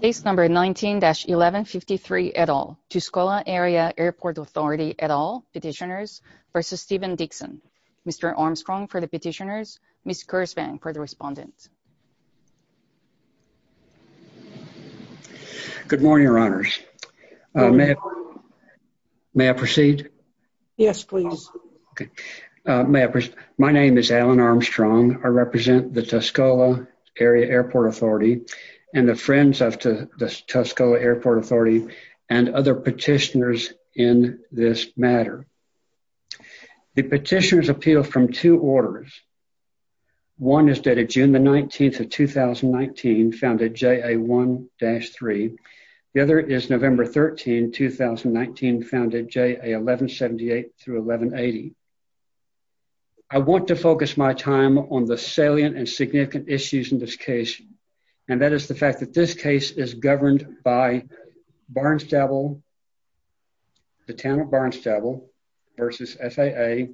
Case number 19-1153 et al. Tuscola Area Airport Authority et al. Petitioners v. Stephen Dickson. Mr. Armstrong for the petitioners, Ms. Kirsvang for the respondents. Good morning, your honors. May I proceed? Yes, please. My name is Alan Armstrong. I represent the Tuscola Area Airport Authority and the friends of the Tuscola Airport Authority and other petitioners in this matter. The petitioners appeal from two orders. One is dated June the 19th of 2019, found at JA 1-3. The other is November 13, 2019, found at JA 1178 through 1180. I want to focus my time on the salient and significant issues in this case, and that is the fact that this case is governed by Barnstable, the town of Barnstable v. SAA,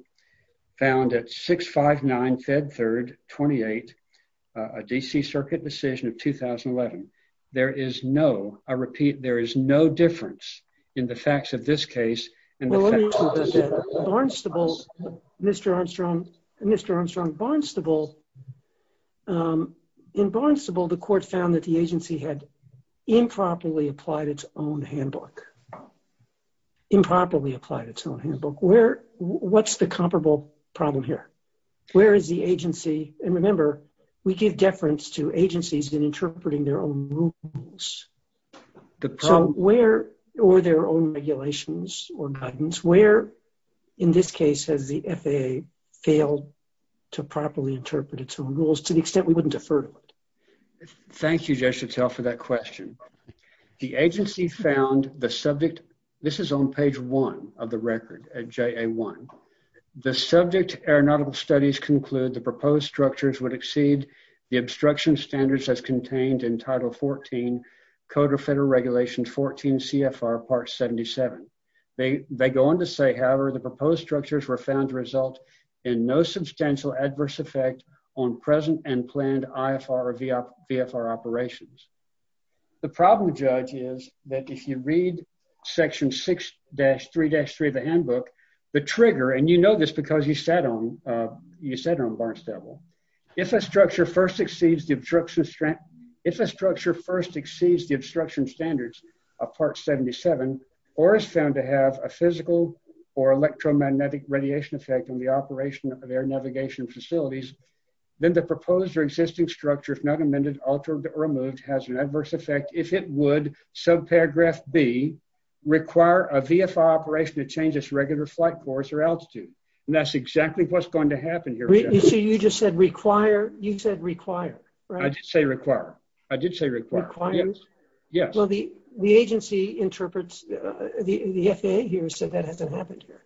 found at 659 Fed 3rd 28, a DC Circuit decision of 2011. There is no, I repeat, there is no difference in the facts of this case and the facts of this case. Barnstable, Mr. Armstrong, Mr. Armstrong, Barnstable, in Barnstable the court found that the agency had improperly applied its own handbook. Improperly applied its own handbook. Where, what's the comparable problem here? Where is the agency, and remember, we give deference to agencies in interpreting their own rules. So where, or their own regulations or guidance, where in this case has the FAA failed to properly interpret its own rules to the extent we wouldn't defer to it? Thank you, Jay Chateau, for that question. The agency found the subject, this is on page 1 of the record at JA 1, the subject aeronautical studies conclude the proposed structures would exceed the obstruction standards as contained in Code of Federal Regulations 14 CFR Part 77. They, they go on to say, however, the proposed structures were found to result in no substantial adverse effect on present and planned IFR or VFR operations. The problem, Judge, is that if you read section 6-3-3 of the handbook, the trigger, and you know this because you sat on, you sat on Barnstable. If a structure first exceeds the obstruction strength, if a structure first exceeds the obstruction standards of Part 77, or is found to have a physical or electromagnetic radiation effect on the operation of air navigation facilities, then the proposed or existing structure, if not amended, altered, or removed, has an adverse effect if it would, subparagraph B, require a VFR operation to change its regular flight course or altitude. And that's exactly what's going to happen here. So you just said require, you said require, right? I did say require. I did say require. Require? Yes. Well, the, the agency interprets, the FAA here said that hasn't happened here.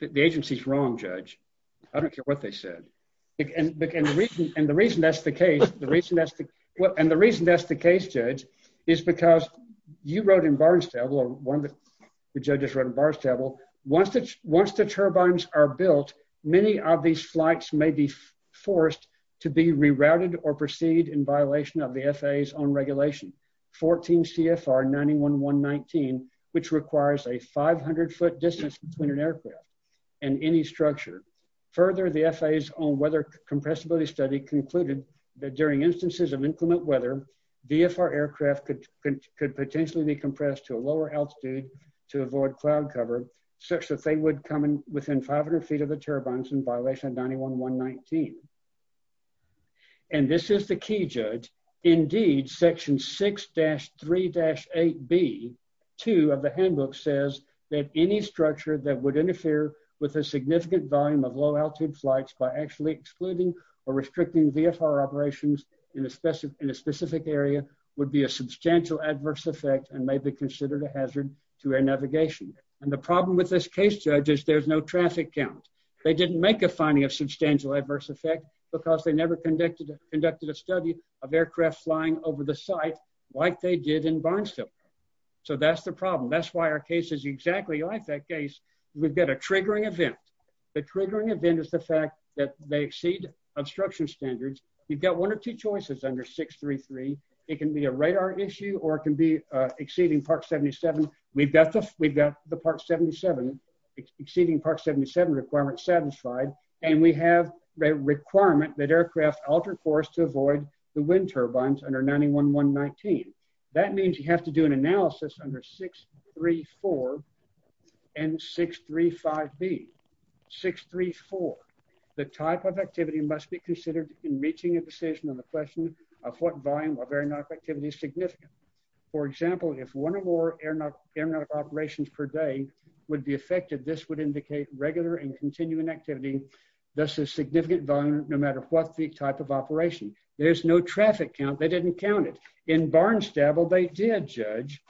The agency's wrong, Judge. I don't care what they said. And the reason, and the reason that's the case, the reason that's the, and the reason that's the case, Judge, is because you wrote in Barnstable, or one of the judges wrote in Barnstable, that the VFR aircrafts may be forced to be rerouted or proceed in violation of the FAA's own regulation, 14 CFR 91.119, which requires a 500-foot distance between an aircraft and any structure. Further, the FAA's own weather compressibility study concluded that during instances of inclement weather, VFR aircraft could, could potentially be compressed to a lower altitude to avoid cloud cover, such that they would come in within 500 feet of the turbines in violation of 91.119. And this is the key, Judge. Indeed, Section 6-3-8B, 2 of the handbook says that any structure that would interfere with a significant volume of low-altitude flights by actually excluding or restricting VFR operations in a specific, in a specific area would be a substantial adverse effect and may be considered a hazard to air navigation. And the problem with this case, Judge, is there's no traffic count. They didn't make a finding of substantial adverse effect because they never conducted, conducted a study of aircraft flying over the site like they did in Barnstable. So that's the problem. That's why our case is exactly like that case. We've got a triggering event. The triggering event is the fact that they exceed obstruction standards. You've got one or two choices under 6-3-3. It can be a radar issue or it can be the Part 77, exceeding Part 77 requirements satisfied. And we have a requirement that aircraft alter course to avoid the wind turbines under 91.119. That means you have to do an analysis under 6-3-4 and 6-3-5B. 6-3-4. The type of activity must be considered in reaching a decision on the question of what volume of air knock activity is significant. For example, if one or more air knock operations per day would be affected, this would indicate regular and continuing activity. This is significant volume no matter what the type of operation. There's no traffic count. They didn't count it. In Barnstable, they did, Judge.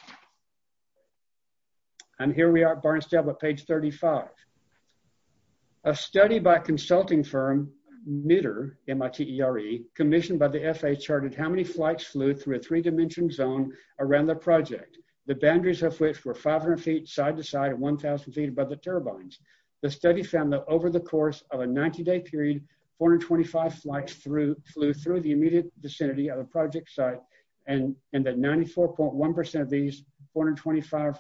And here we are at Barnstable at page 35. A study by consulting firm MITRE, M-I-T-E-R-E, commissioned by the FAA charted how many flights flew through a three-dimension zone around the project, the boundaries of which were 500 feet side-to-side and 1,000 feet above the turbines. The study found that over the course of a 90-day period, 425 flights flew through the immediate vicinity of a project site and that 94.1% of these 425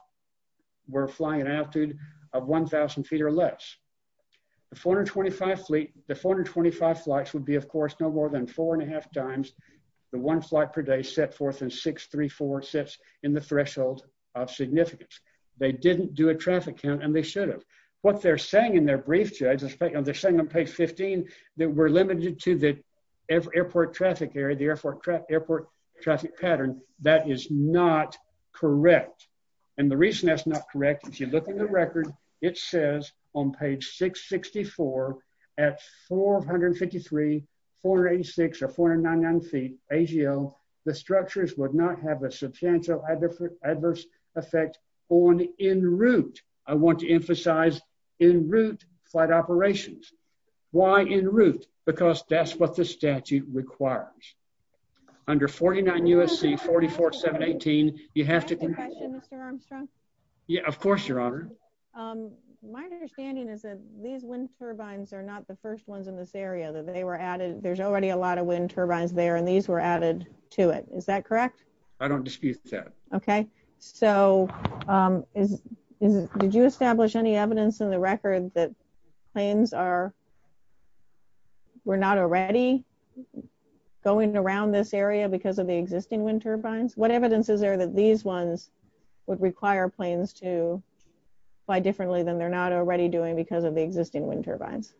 were flying an altitude of 1,000 feet or less. The 425 flights would be, of course, no more than 634 sets in the threshold of significance. They didn't do a traffic count and they should have. What they're saying in their brief, Judge, they're saying on page 15 that we're limited to the airport traffic area, the airport traffic pattern, that is not correct. And the reason that's not correct, if you look in the record, it says on page 664 at 453, 486, or 499 feet AGO, the structures would not have a substantial adverse effect on en-route. I want to emphasize en-route flight operations. Why en-route? Because that's what the statute requires. Under 49 U.S.C. 44718, you have to, yeah, of course, Your Honor. My understanding is that these wind turbines are not the first ones in this area, that they were added, there's already a lot of wind turbines there and these were added to it. Is that correct? I don't dispute that. Okay, so did you establish any evidence in the record that planes are, were not already going around this area because of the existing wind turbines? What evidence is there that these ones would require planes to fly differently than they're not already doing because of the existing wind turbines?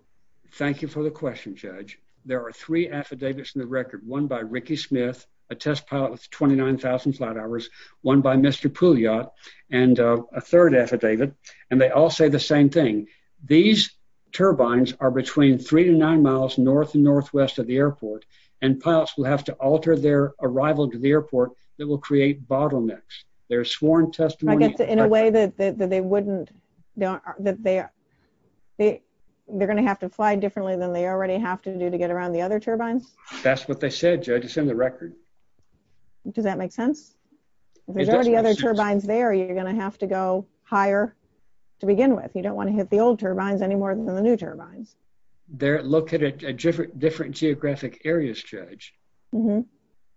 Thank you for the question, Judge. There are three affidavits in the record, one by Ricky Smith, a test pilot with 29,000 flight hours, one by Mr. Pouillot, and a third affidavit, and they all say the same thing. These turbines are between three to nine miles north and northwest of the airport and pilots will have to alter their arrival to the airport that will create bottlenecks. There's sworn testimony. In a way that they wouldn't, that they're gonna have to fly differently than they already have to do to get around the other turbines? That's what they said, Judge, it's in the record. Does that make sense? There's already other turbines there, you're gonna have to go higher to begin with. You don't want to hit the old turbines any more than the new turbines. They're located at different geographic areas, Judge. Mm-hmm,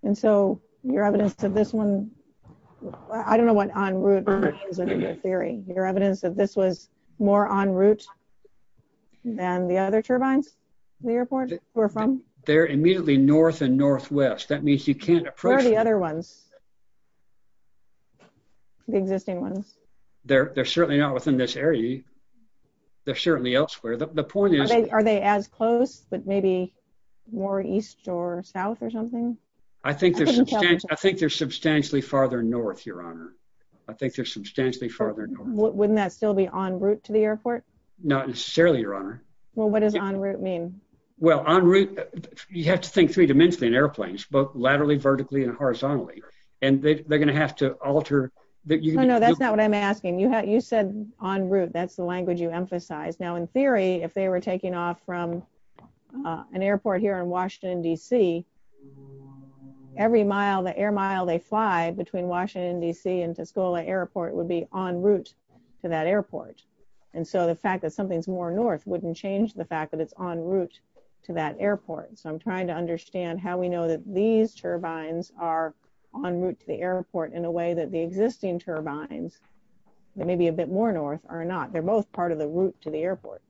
and so your evidence that this one, I don't know what on route your theory, your evidence that this was more on route than the other turbines the airport were from? They're immediately north and northwest, that means you can't approach. Where are the other ones? The existing ones. They're certainly not within this area, they're certainly elsewhere. The point is, are they as close, but maybe more east or south or something? I think there's, I think they're substantially farther north, Your Honor. I think they're substantially farther north. Wouldn't that still be on route to the airport? Not necessarily, Your Honor. Well, what does on route mean? Well, on route, you have to think three dimensionally in airplanes, both laterally, vertically, and horizontally, and they're gonna have to alter... No, no, that's not what I'm asking. You said on route, that's the language you emphasized. Now, in theory, if they were taking off from an airport here in Washington DC, every mile, the air mile they fly between Washington DC and Tuscola Airport would be on route to that airport, and so the fact that something's more north wouldn't change the fact that it's on route to that airport. So I'm trying to understand how we know that these turbines are on route to the airport in a way that the existing turbines, they may be a bit more north or not, they're both part of the airport.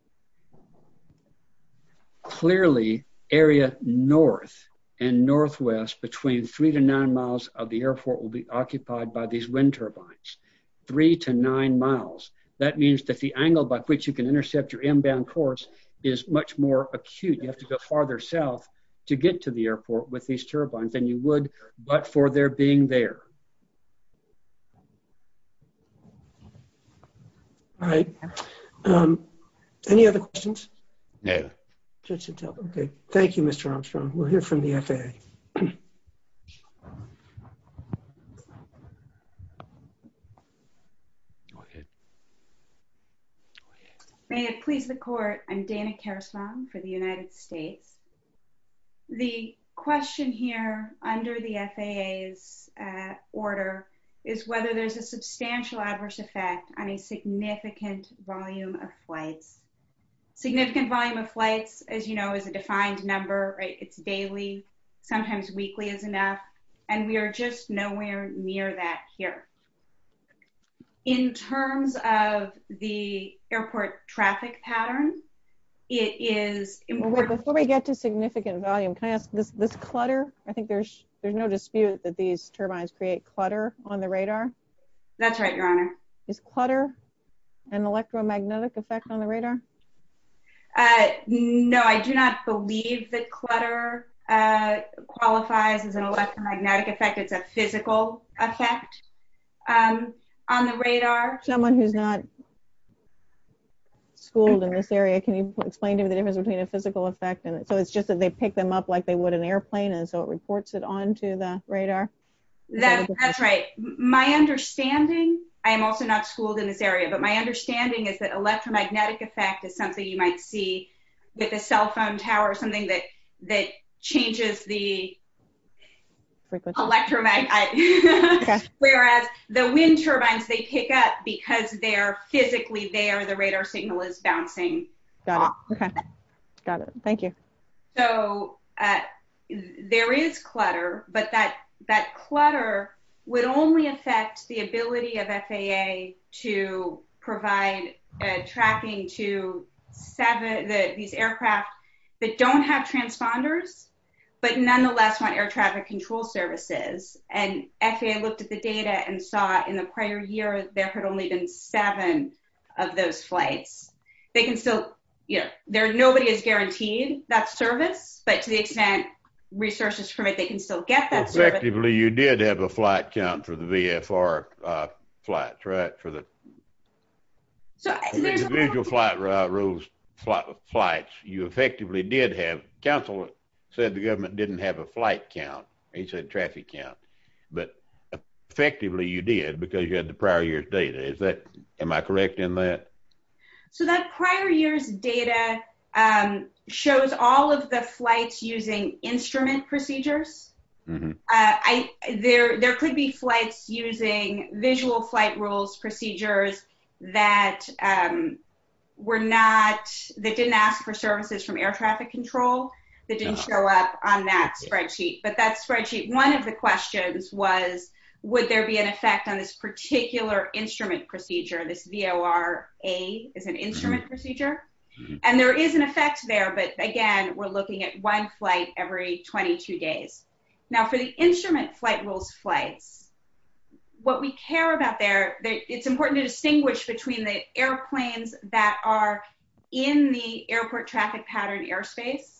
Clearly, area north and northwest between three to nine miles of the airport will be occupied by these wind turbines. Three to nine miles. That means that the angle by which you can intercept your inbound course is much more acute. You have to go farther south to get to the airport with these turbines. Any other questions? No. Okay. Thank you, Mr. Armstrong. We'll hear from the FAA. Go ahead. May it please the court, I'm Dana Karasman for the United States. The question here under the FAA's order is whether there's a substantial adverse effect on a significant volume of flights. Significant volume of flights, as you know, is a defined number. It's daily, sometimes weekly is enough, and we are just nowhere near that here. In terms of the airport traffic pattern, it is... Before we get to significant volume, can I ask, this clutter, I think there's no dispute that these turbines create clutter on the radar? That's right, Your Honor. Is clutter an electromagnetic effect on the radar? No, I do not believe that clutter qualifies as an electromagnetic effect. It's a physical effect on the radar. Someone who's not schooled in this area, can you explain to me the difference between a physical effect and... So it's just that they pick them up like they are plane and so it reports it onto the radar? That's right. My understanding, I'm also not schooled in this area, but my understanding is that electromagnetic effect is something you might see with a cell phone tower, something that changes the... Frequency. Electromagnetic... Whereas the wind turbines, they pick up because they are physically there, the radar signal is bouncing off. Got it. Okay. Got it. Thank you. So there is clutter, but that clutter would only affect the ability of FAA to provide tracking to these aircraft that don't have transponders, but nonetheless want air traffic control services. And FAA looked at the data and saw in the prior year, there had only been seven of those flights. They can still... Nobody is guaranteed that service, but to the extent resources permit, they can still get that service. Effectively, you did have a flight count for the VFR flights, right? For the... So there's... Individual flight rules, flights, you effectively did have... Counselor said the government didn't have a flight count, he said traffic count, but effectively you did because you had the prior year's data. Is that... Am I correct in that? So that prior year's data shows all of the flights using instrument procedures. There could be flights using visual flight rules procedures that were not... That didn't ask for services from air traffic control, that didn't show up on that spreadsheet, but that spreadsheet... One of the questions was, would there be an effect on this particular instrument procedure? This VOR A is an instrument procedure, and there is an effect there, but again, we're looking at one flight every 22 days. Now, for the instrument flight rules flights, what we care about there, it's important to distinguish between the airplanes that are in the airport traffic pattern airspace,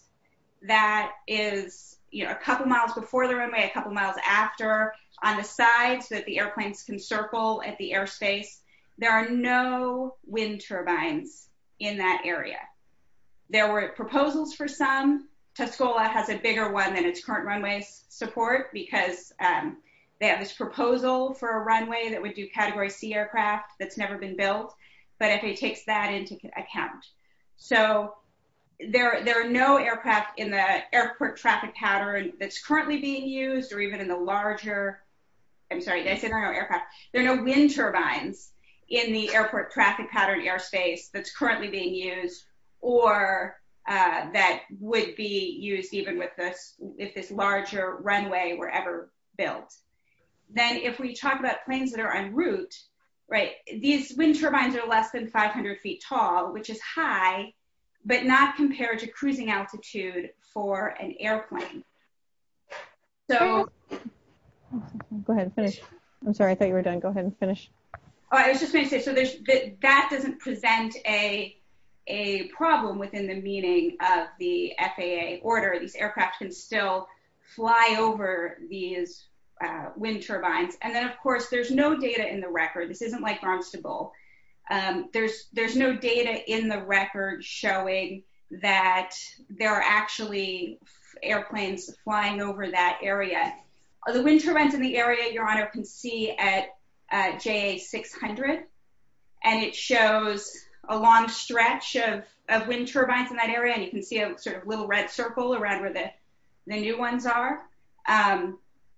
that is a couple of miles before the runway, a couple of miles after, on the sides, so that the airplanes can circle at the airspace. There are no wind turbines in that area. There were proposals for some, Tuscola has a bigger one than its current runway support, because they have this proposal for a runway that would do category C aircraft that's never been built, but if it takes that into account. So there are no aircraft in the airport traffic pattern that's a larger... I'm sorry, did I say there are no aircraft? There are no wind turbines in the airport traffic pattern airspace that's currently being used, or that would be used even with this, if this larger runway were ever built. Then if we talk about planes that are en route, these wind turbines are less than 500 feet tall, which is high, but not compared to cruising altitude for an airplane. Go ahead, finish. I'm sorry, I thought you were done. Go ahead and finish. Oh, I was just gonna say, so that doesn't present a problem within the meaning of the FAA order. These aircraft can still fly over these wind turbines. And then, of course, there's no data in the record. This isn't like Barnstable. There's no data in the record showing that there are actually airplanes flying over that area. The wind turbines in the area, Your Honor, can see at JA600, and it shows a long stretch of wind turbines in that area, and you can see a little red circle around where the new ones are.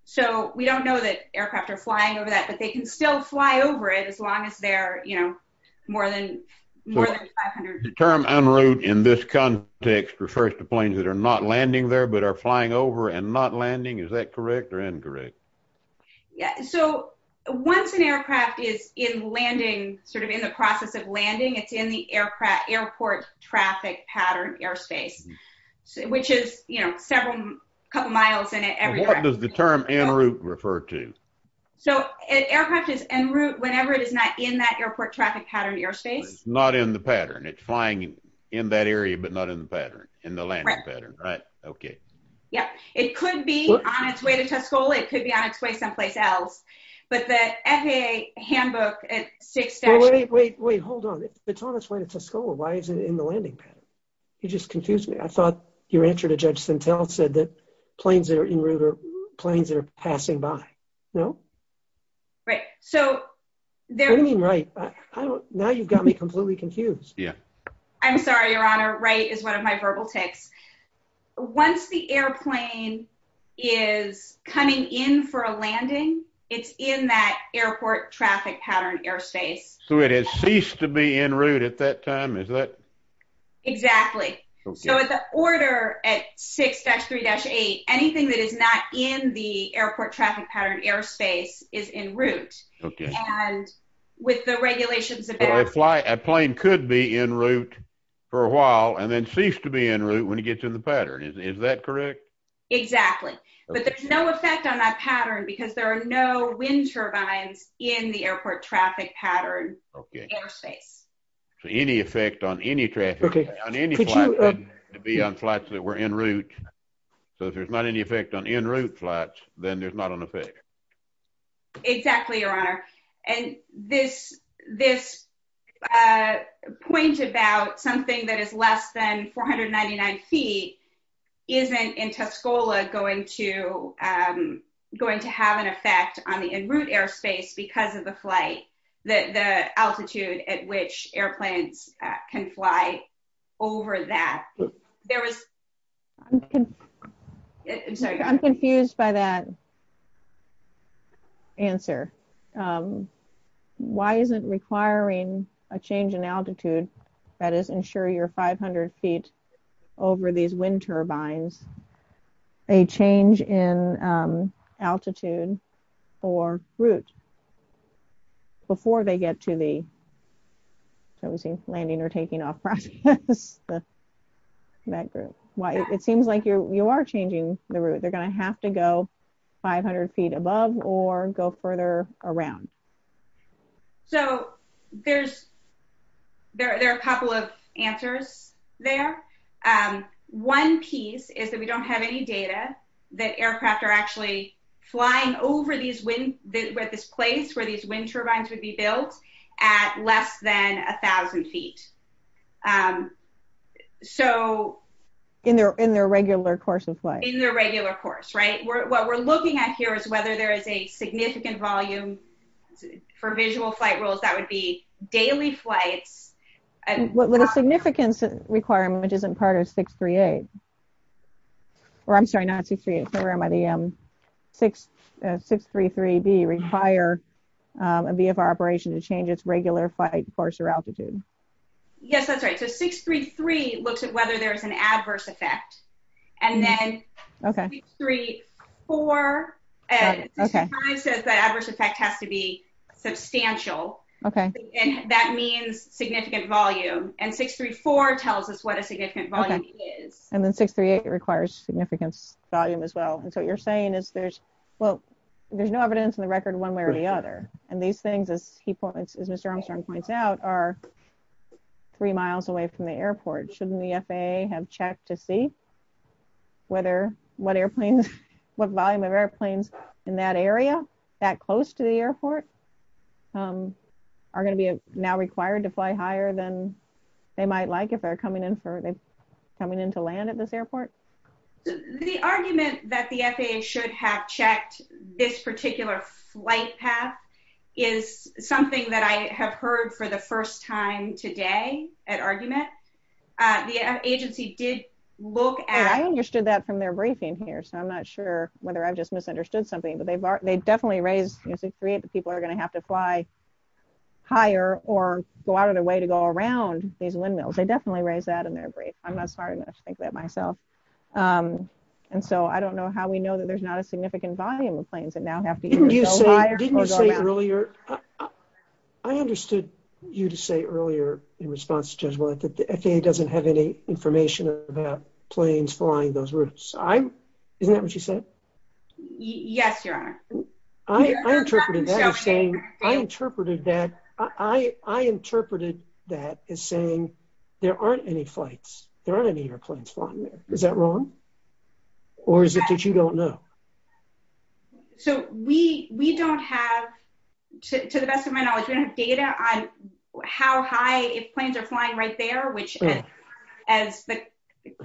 So we don't know that aircraft are flying over that, but they can still fly over it as long as they're more than 500 feet. The term en route in this context refers to planes that are not landing there, but are flying over and not landing. Is that correct or incorrect? Yeah. So once an aircraft is in landing, sort of in the process of landing, it's in the airport traffic pattern airspace, which is several couple of miles in every direction. What does the term en route refer to? So an aircraft is en route whenever it is not in that airport traffic pattern airspace? It's not in the pattern. It's flying in that area, but not in the pattern, in the landing pattern, right? Okay. Yeah. It could be on its way to Tuscola. It could be on its way someplace else, but the FAA handbook at six stations... Wait, wait, wait. Hold on. If it's on its way to Tuscola, why is it in the landing pattern? You just confused me. I thought your answer to Judge Sintel said that planes that are en route are planes that are passing by. No? Right. So... What do you mean right? Now you've got me completely confused. Yeah. I'm sorry, Your Honor. Right is one of my verbal tics. Once the airplane is coming in for a landing, it's in that airport traffic pattern airspace. So it has ceased to be en route at that time? Is that... Exactly. So at the order at 6-3-8, anything that is not in the airport traffic pattern airspace is en route. Okay. And with the regulations about... A plane could be en route for a while and then cease to be en route when it gets in the pattern. Is that correct? Exactly. But there's no effect on that pattern because there are no wind turbines in the airport traffic pattern airspace. Okay. So any effect on any traffic pattern on any flight... Could you... Could be on flights that were en route. So if there's not any effect on en route flights, then there's not an effect. Exactly, Your Honor. And this point about something that is less than 499 feet isn't in Tuscola going to have an effect on the en route airspace because of the flight, the altitude at which airplanes can fly over that. There was... I'm sorry. I'm confused by that answer. Why isn't requiring a change in altitude, that is, ensure you're 500 feet over these wind turbines, a change in altitude or route before they get to the... So we're seeing landing or landing. That group. It seems like you are changing the route. They're gonna have to go 500 feet above or go further around. So there's... There are a couple of answers there. One piece is that we don't have any data that aircraft are actually flying over these wind... At this place where these wind turbines would be in their regular course of flight. In their regular course, right? What we're looking at here is whether there is a significant volume for visual flight rules that would be daily flights... What is the significance requirement which isn't part of 638? Or I'm sorry, not 638 program, but the 633B require a VFR operation to change its regular flight course or altitude. Yes, that's right. So 633 looks at whether there's an adverse effect and then 634... Okay. 634 says that adverse effect has to be substantial. And that means significant volume. And 634 tells us what a significant volume is. And then 638 requires significant volume as well. And so what you're saying is there's... Well, there's no evidence in the record one way or the other. And these things, as he points, as Mr. Armstrong points out are three miles away from the airport. Shouldn't the FAA have checked to see whether... What airplanes... What volume of airplanes in that area that close to the airport are gonna be now required to fly higher than they might like if they're coming in for... Coming in to land at this airport? The argument that the FAA should have checked this particular flight path is something that I have heard for the first time today at argument. The agency did look at... I understood that from their briefing here, so I'm not sure whether I've just misunderstood something, but they definitely raised... 638, the people are gonna have to fly higher or go out of the way to go around these windmills. They definitely raised that in their brief. I'm not smart enough to think that myself. And so I don't know how we know that there's not a significant volume of planes that now have to either go higher or go around. Didn't you say earlier... I understood you to say earlier in response to Judge Willett that the FAA doesn't have any information about planes flying those routes. Isn't that what you said? Yes, Your Honor. I interpreted that as saying... I interpreted that as saying there aren't any flights. There aren't any airplanes flying there. Is that what you said? I don't know. So we don't have... To the best of my knowledge, we don't have data on how high planes are flying right there, which as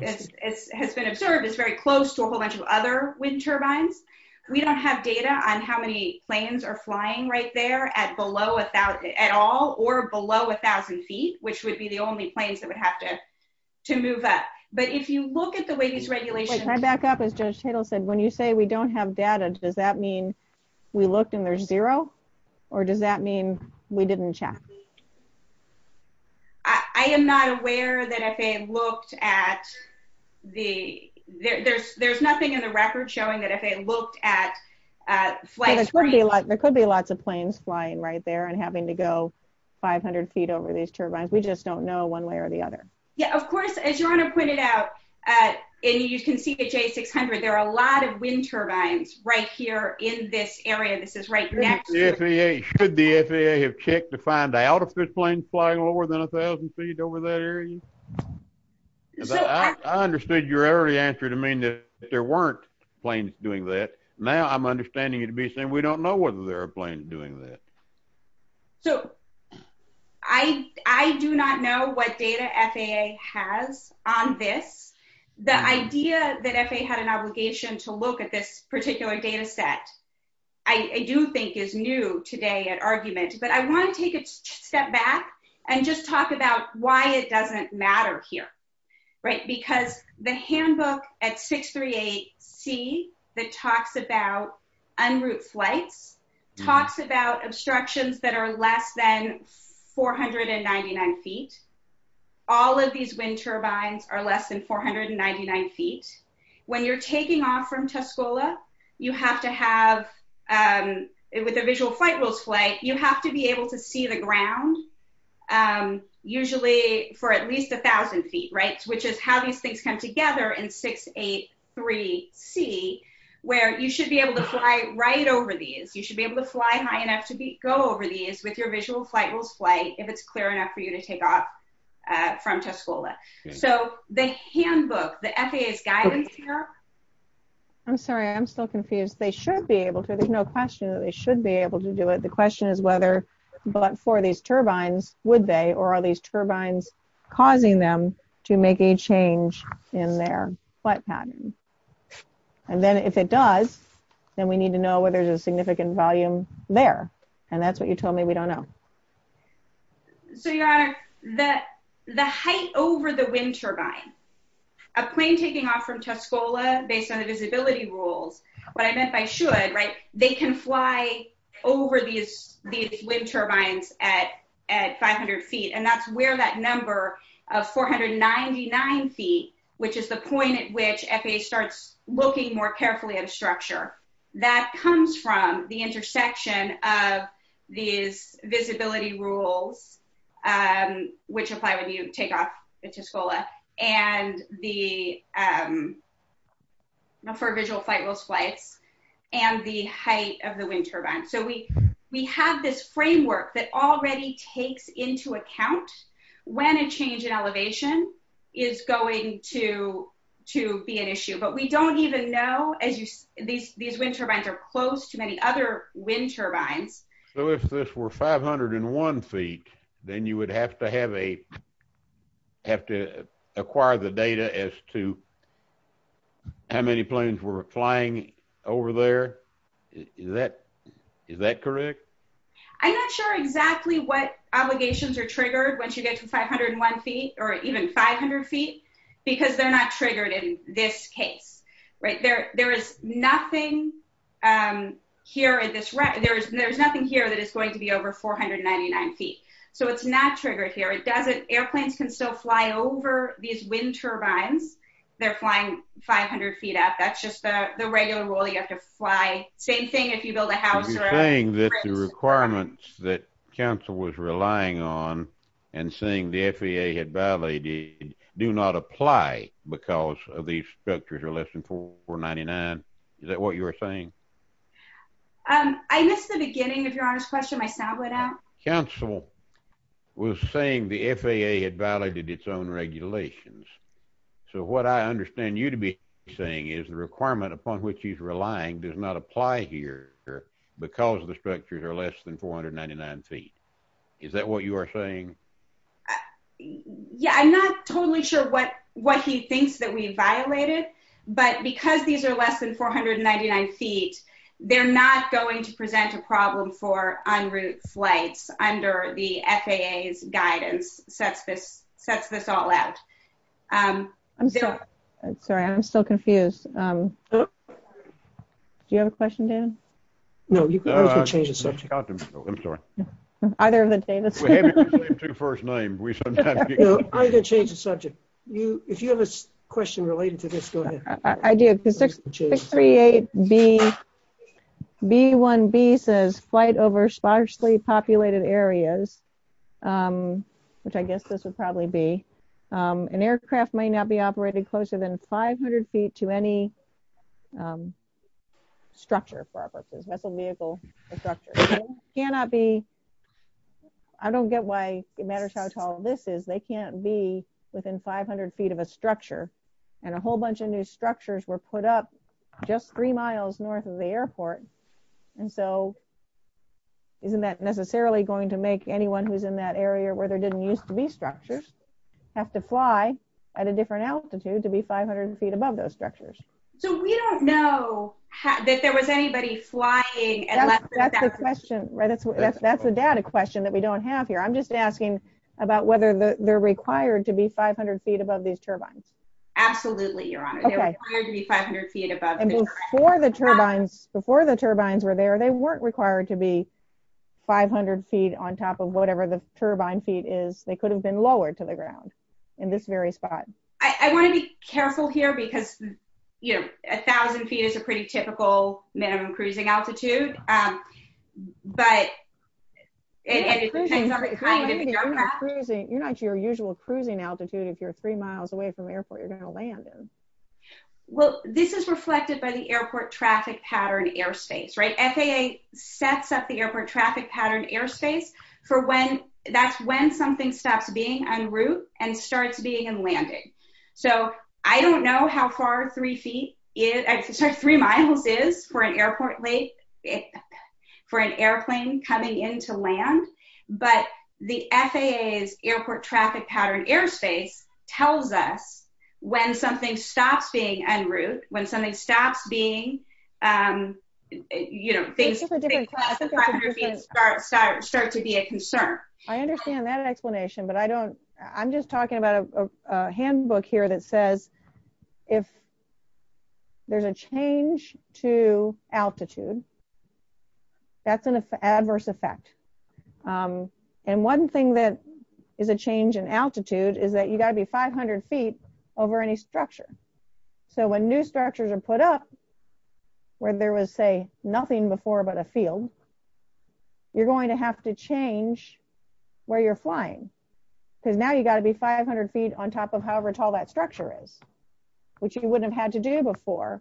has been observed is very close to a whole bunch of other wind turbines. We don't have data on how many planes are flying right there at all or below 1000 feet, which would be the only planes that would have to move up. But if you look at the way these regulations... Can I back up? As Judge Tatel said, when you say we don't have data, does that mean we looked and there's zero? Or does that mean we didn't check? I am not aware that FAA looked at the... There's nothing in the record showing that FAA looked at flights... There could be lots of planes flying right there and having to go 500 feet over these turbines. We just don't know one way or the other. Yeah, of course, as Your Honor pointed out, and you can see the J600, there are a lot of wind turbines right here in this area. This is right next to... Should the FAA have checked to find out if there's planes flying lower than 1000 feet over that area? I understood your early answer to mean that there weren't planes doing that. Now I'm understanding you to be saying we don't know whether there are planes doing that. I do not know what data FAA has on this. The idea that FAA had an obligation to look at this particular data set, I do think is new today at argument, but I wanna take a step back and just talk about why it doesn't matter here. Because the handbook at 638C that talks about unroute flights talks about obstructions that are less than 499 feet. All of these wind turbines are less than 499 feet. When you're taking off from Tuscola, you have to have... With the visual flight rules flight, you have to be able to fly over 1000 feet, which is how these things come together in 683C, where you should be able to fly right over these. You should be able to fly high enough to go over these with your visual flight rules flight, if it's clear enough for you to take off from Tuscola. So the handbook, the FAA's guidance here... I'm sorry, I'm still confused. They should be able to, there's no question that they should be able to do it. The question is whether, but for these wind turbines, is it necessary to be able to fly over 1000 feet and then have a visual flight pattern? And then if it does, then we need to know whether there's a significant volume there. And that's what you told me we don't know. So Your Honor, the height over the wind turbine, a plane taking off from Tuscola based on the visibility rules, what I meant by should, they can fly over these wind turbines at 500 feet. And that's where that number of 499 feet, which is the point at which FAA starts looking more carefully at a structure, that comes from the intersection of these visibility rules, which apply when you take off into Tuscola, and the... For visual flight rules flights, and the height of the wind turbine. So we have this framework that already takes into account when a change in elevation is going to be an issue. But we don't even know, as you see, these wind turbines are close to many other wind turbines. So if this were 501 feet, then you would have to have a, have to acquire the data as to how many planes were flying over there. Is that, is that correct? I'm not sure exactly what obligations are triggered once you get to 501 feet or even 500 feet, because they're not triggered in this case, right? There is nothing here at this, there's nothing here that is going to be over 499 feet. So it's not triggered here. It doesn't, airplanes can still fly over these wind turbines. They're flying 500 feet up. That's just the, the regular rule that you have to fly. Same thing if you build a house or... Are you saying that the requirements that council was relying on, and saying the FAA had violated, do not apply because of these structures are less than 499? Is that what you were saying? I missed the beginning of your honest question. My sound went out. Council was saying the FAA had violated its own regulations. So what I understand you to be saying is the requirement upon which he's relying does not apply here because the structures are less than 499 feet. Is that what you are saying? Yeah, I'm not totally sure what, what he thinks that we violated, but because these are less than 499 feet, they're not going to present a problem for en route flights under the FAA's guidance sets this, sets this all out. I'm sorry, I'm still confused. Do you have a question, Dan? No, you can change the subject. I'm sorry. Either of the Danis. I'm going to change the subject. You, if you have a question related to this, go ahead. I do. 638B, B1B says flight over sparsely populated areas, which I guess this would probably be. An aircraft might not be operated closer than 500 feet to any structure for our purposes, vessel vehicle structure. Cannot be, I don't get why it matters how tall this is. They can't be within 500 feet of a structure and a just three miles north of the airport. And so isn't that necessarily going to make anyone who's in that area where there didn't used to be structures have to fly at a different altitude to be 500 feet above those structures? So we don't know that there was anybody flying. That's the question, right? That's, that's the data question that we don't have here. I'm just asking about whether they're required to be 500 feet above. And before the turbines, before the turbines were there, they weren't required to be 500 feet on top of whatever the turbine feet is. They could have been lowered to the ground in this very spot. I want to be careful here because you know, a thousand feet is a pretty typical minimum cruising altitude. But it depends on the kind of aircraft. You're not your usual cruising altitude if you're three miles away from the airport. This is reflected by the airport traffic pattern airspace, right? FAA sets up the airport traffic pattern airspace for when, that's when something stops being en route and starts being in landing. So I don't know how far three feet is, sorry, three miles is for an airport late, for an airplane coming into land. But the FAA's airport traffic pattern airspace tells us when something stops being en route, when something stops being you know, things start to be a concern. I understand that explanation but I don't, I'm just talking about a handbook here that says if there's a change to altitude that's an adverse effect. And one thing that is a change in altitude is that you got to be 500 feet over any structure. So when new structures are put up where there was say nothing before but a field, you're going to have to change where you're flying. Because now you got to be 500 feet on top of however tall that structure is, which you wouldn't have had to do before.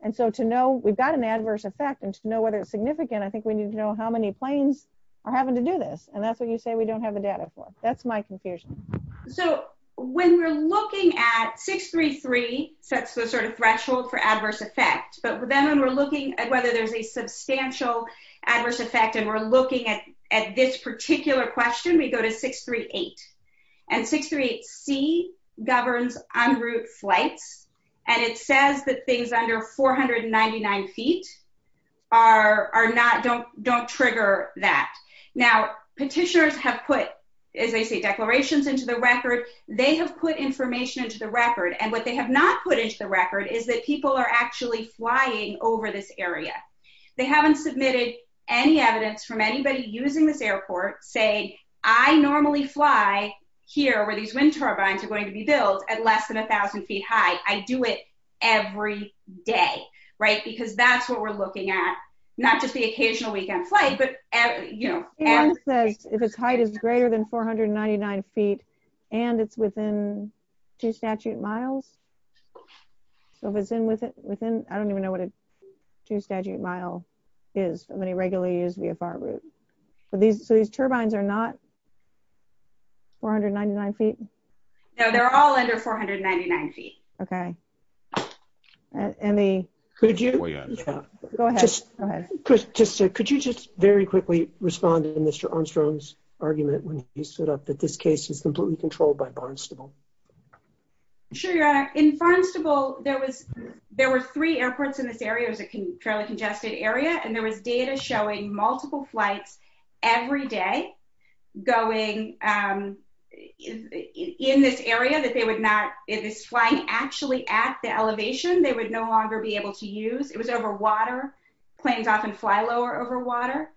And so to know we've got an adverse effect and to know whether it's significant, I think we need to know how many planes are having to do this. And that's what you say we don't have the data for. That's my confusion. So when we're looking at 633 sets the sort of threshold for adverse effect. But then when we're looking at whether there's a substantial adverse effect and we're looking at this particular question, we go to 638. And 638C governs en route flights and it says that things under 499 feet don't trigger that. Now petitioners have put, as I say, declarations into the record. They have put information into the record and what they have not put into the record is that people are actually flying over this area. They haven't submitted any evidence from anybody using this airport saying I normally fly here where these wind turbines are going to be built at less than a thousand feet high. I do it every day, right? Because that's what we're looking at. Not just the occasional weekend flight but you know. Ann says if its height is greater than 499 feet and it's within two statute miles. So if it's in within, I don't even know what a two statute mile is of any regularly used VFR route. So these turbines are not 499 feet? No they're all under 499 feet. Okay. Could you just very quickly respond to Mr. Armstrong's argument when he stood up that this case is completely controlled by Barnstable? Sure your honor. In Barnstable there were three airports in this area. It was a fairly congested area and there was data showing multiple flights every day going in this area that they would not, if it's flying actually at the elevation, they would no longer be able to use. It was over water. Planes often fly lower over water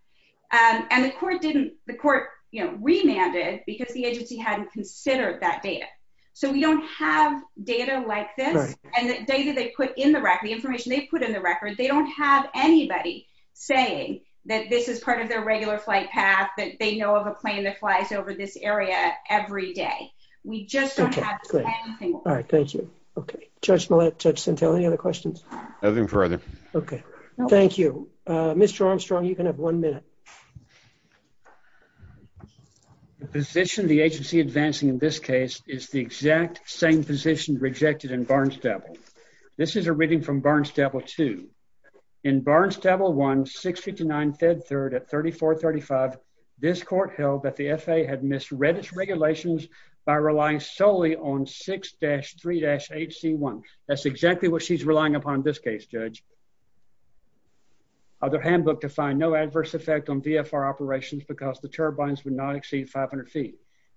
and the court didn't, the court you know remanded because the agency hadn't considered that data. So we don't have data like this and the data they put in the record, the information they put in the record, they don't have anybody saying that this is part of their regular flight path that they know of a plane that flies over this area every day. We just don't have anything. All right thank you. Okay. Judge Millett, Judge Centello, any other questions? Nothing further. Okay. Thank you. Mr. Armstrong you can have one minute. The position the agency advancing in this case is the exact same position rejected in Barnstable. This is a reading from Barnstable 2. In Barnstable 1, 659 Fed 3rd at 3435, this court held that the FAA had misread its regulations by relying solely on 6-3-8c1. That's exactly what she's relying upon in this case, Judge. Other handbook defined no adverse effect on VFR operations because the turbines would not exceed 500 feet.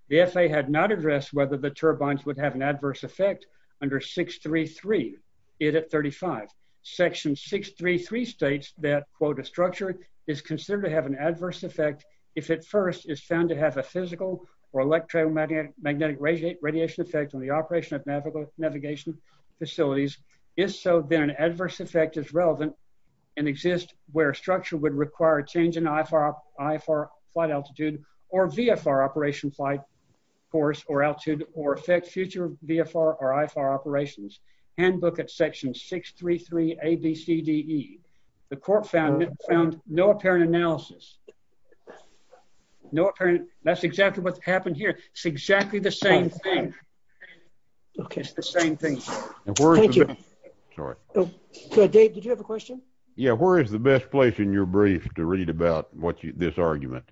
The FAA had not addressed whether the turbines would have an adverse effect under 633, it at 35. Section 633 states that, quote, a structure is considered to have an adverse effect if it first is found to have a physical or electromagnetic radiation effect on the operation of navigation facilities. If so, then an adverse effect is relevant and exists where a structure would require a change in IFR flight altitude or VFR operation flight course or altitude or affect future VFR or IFR operations. Handbook at section 633 A, B, C, D, E. The court found no apparent analysis. No apparent, that's exactly what's happened here. It's exactly the same thing. Okay. It's the same thing. Thank you. Sorry. So, Dave, did you have a question? Yeah, where is the best place in your brief to read about what you, this argument?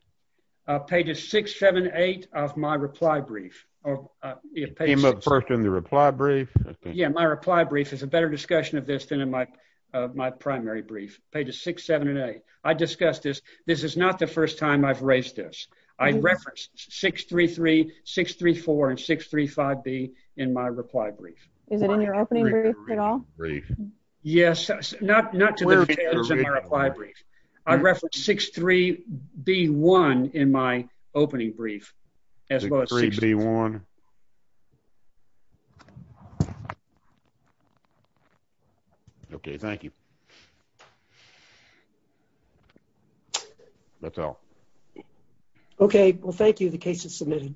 Pages 6, 7, 8 of my reply brief. It came up first in the reply brief. Yeah, my reply brief is a better discussion of this than in my primary brief. Pages 6, 7, and 8. I discussed this. This is not the first time I've raised this. I referenced 633, 634, and 635B in my reply brief. Is it in your opening brief at all? Yes, not to the extent of my reply brief. I referenced 63B1 in my opening brief. 63B1. Okay. Thank you. That's all. Okay. Well, thank you. The case is submitted.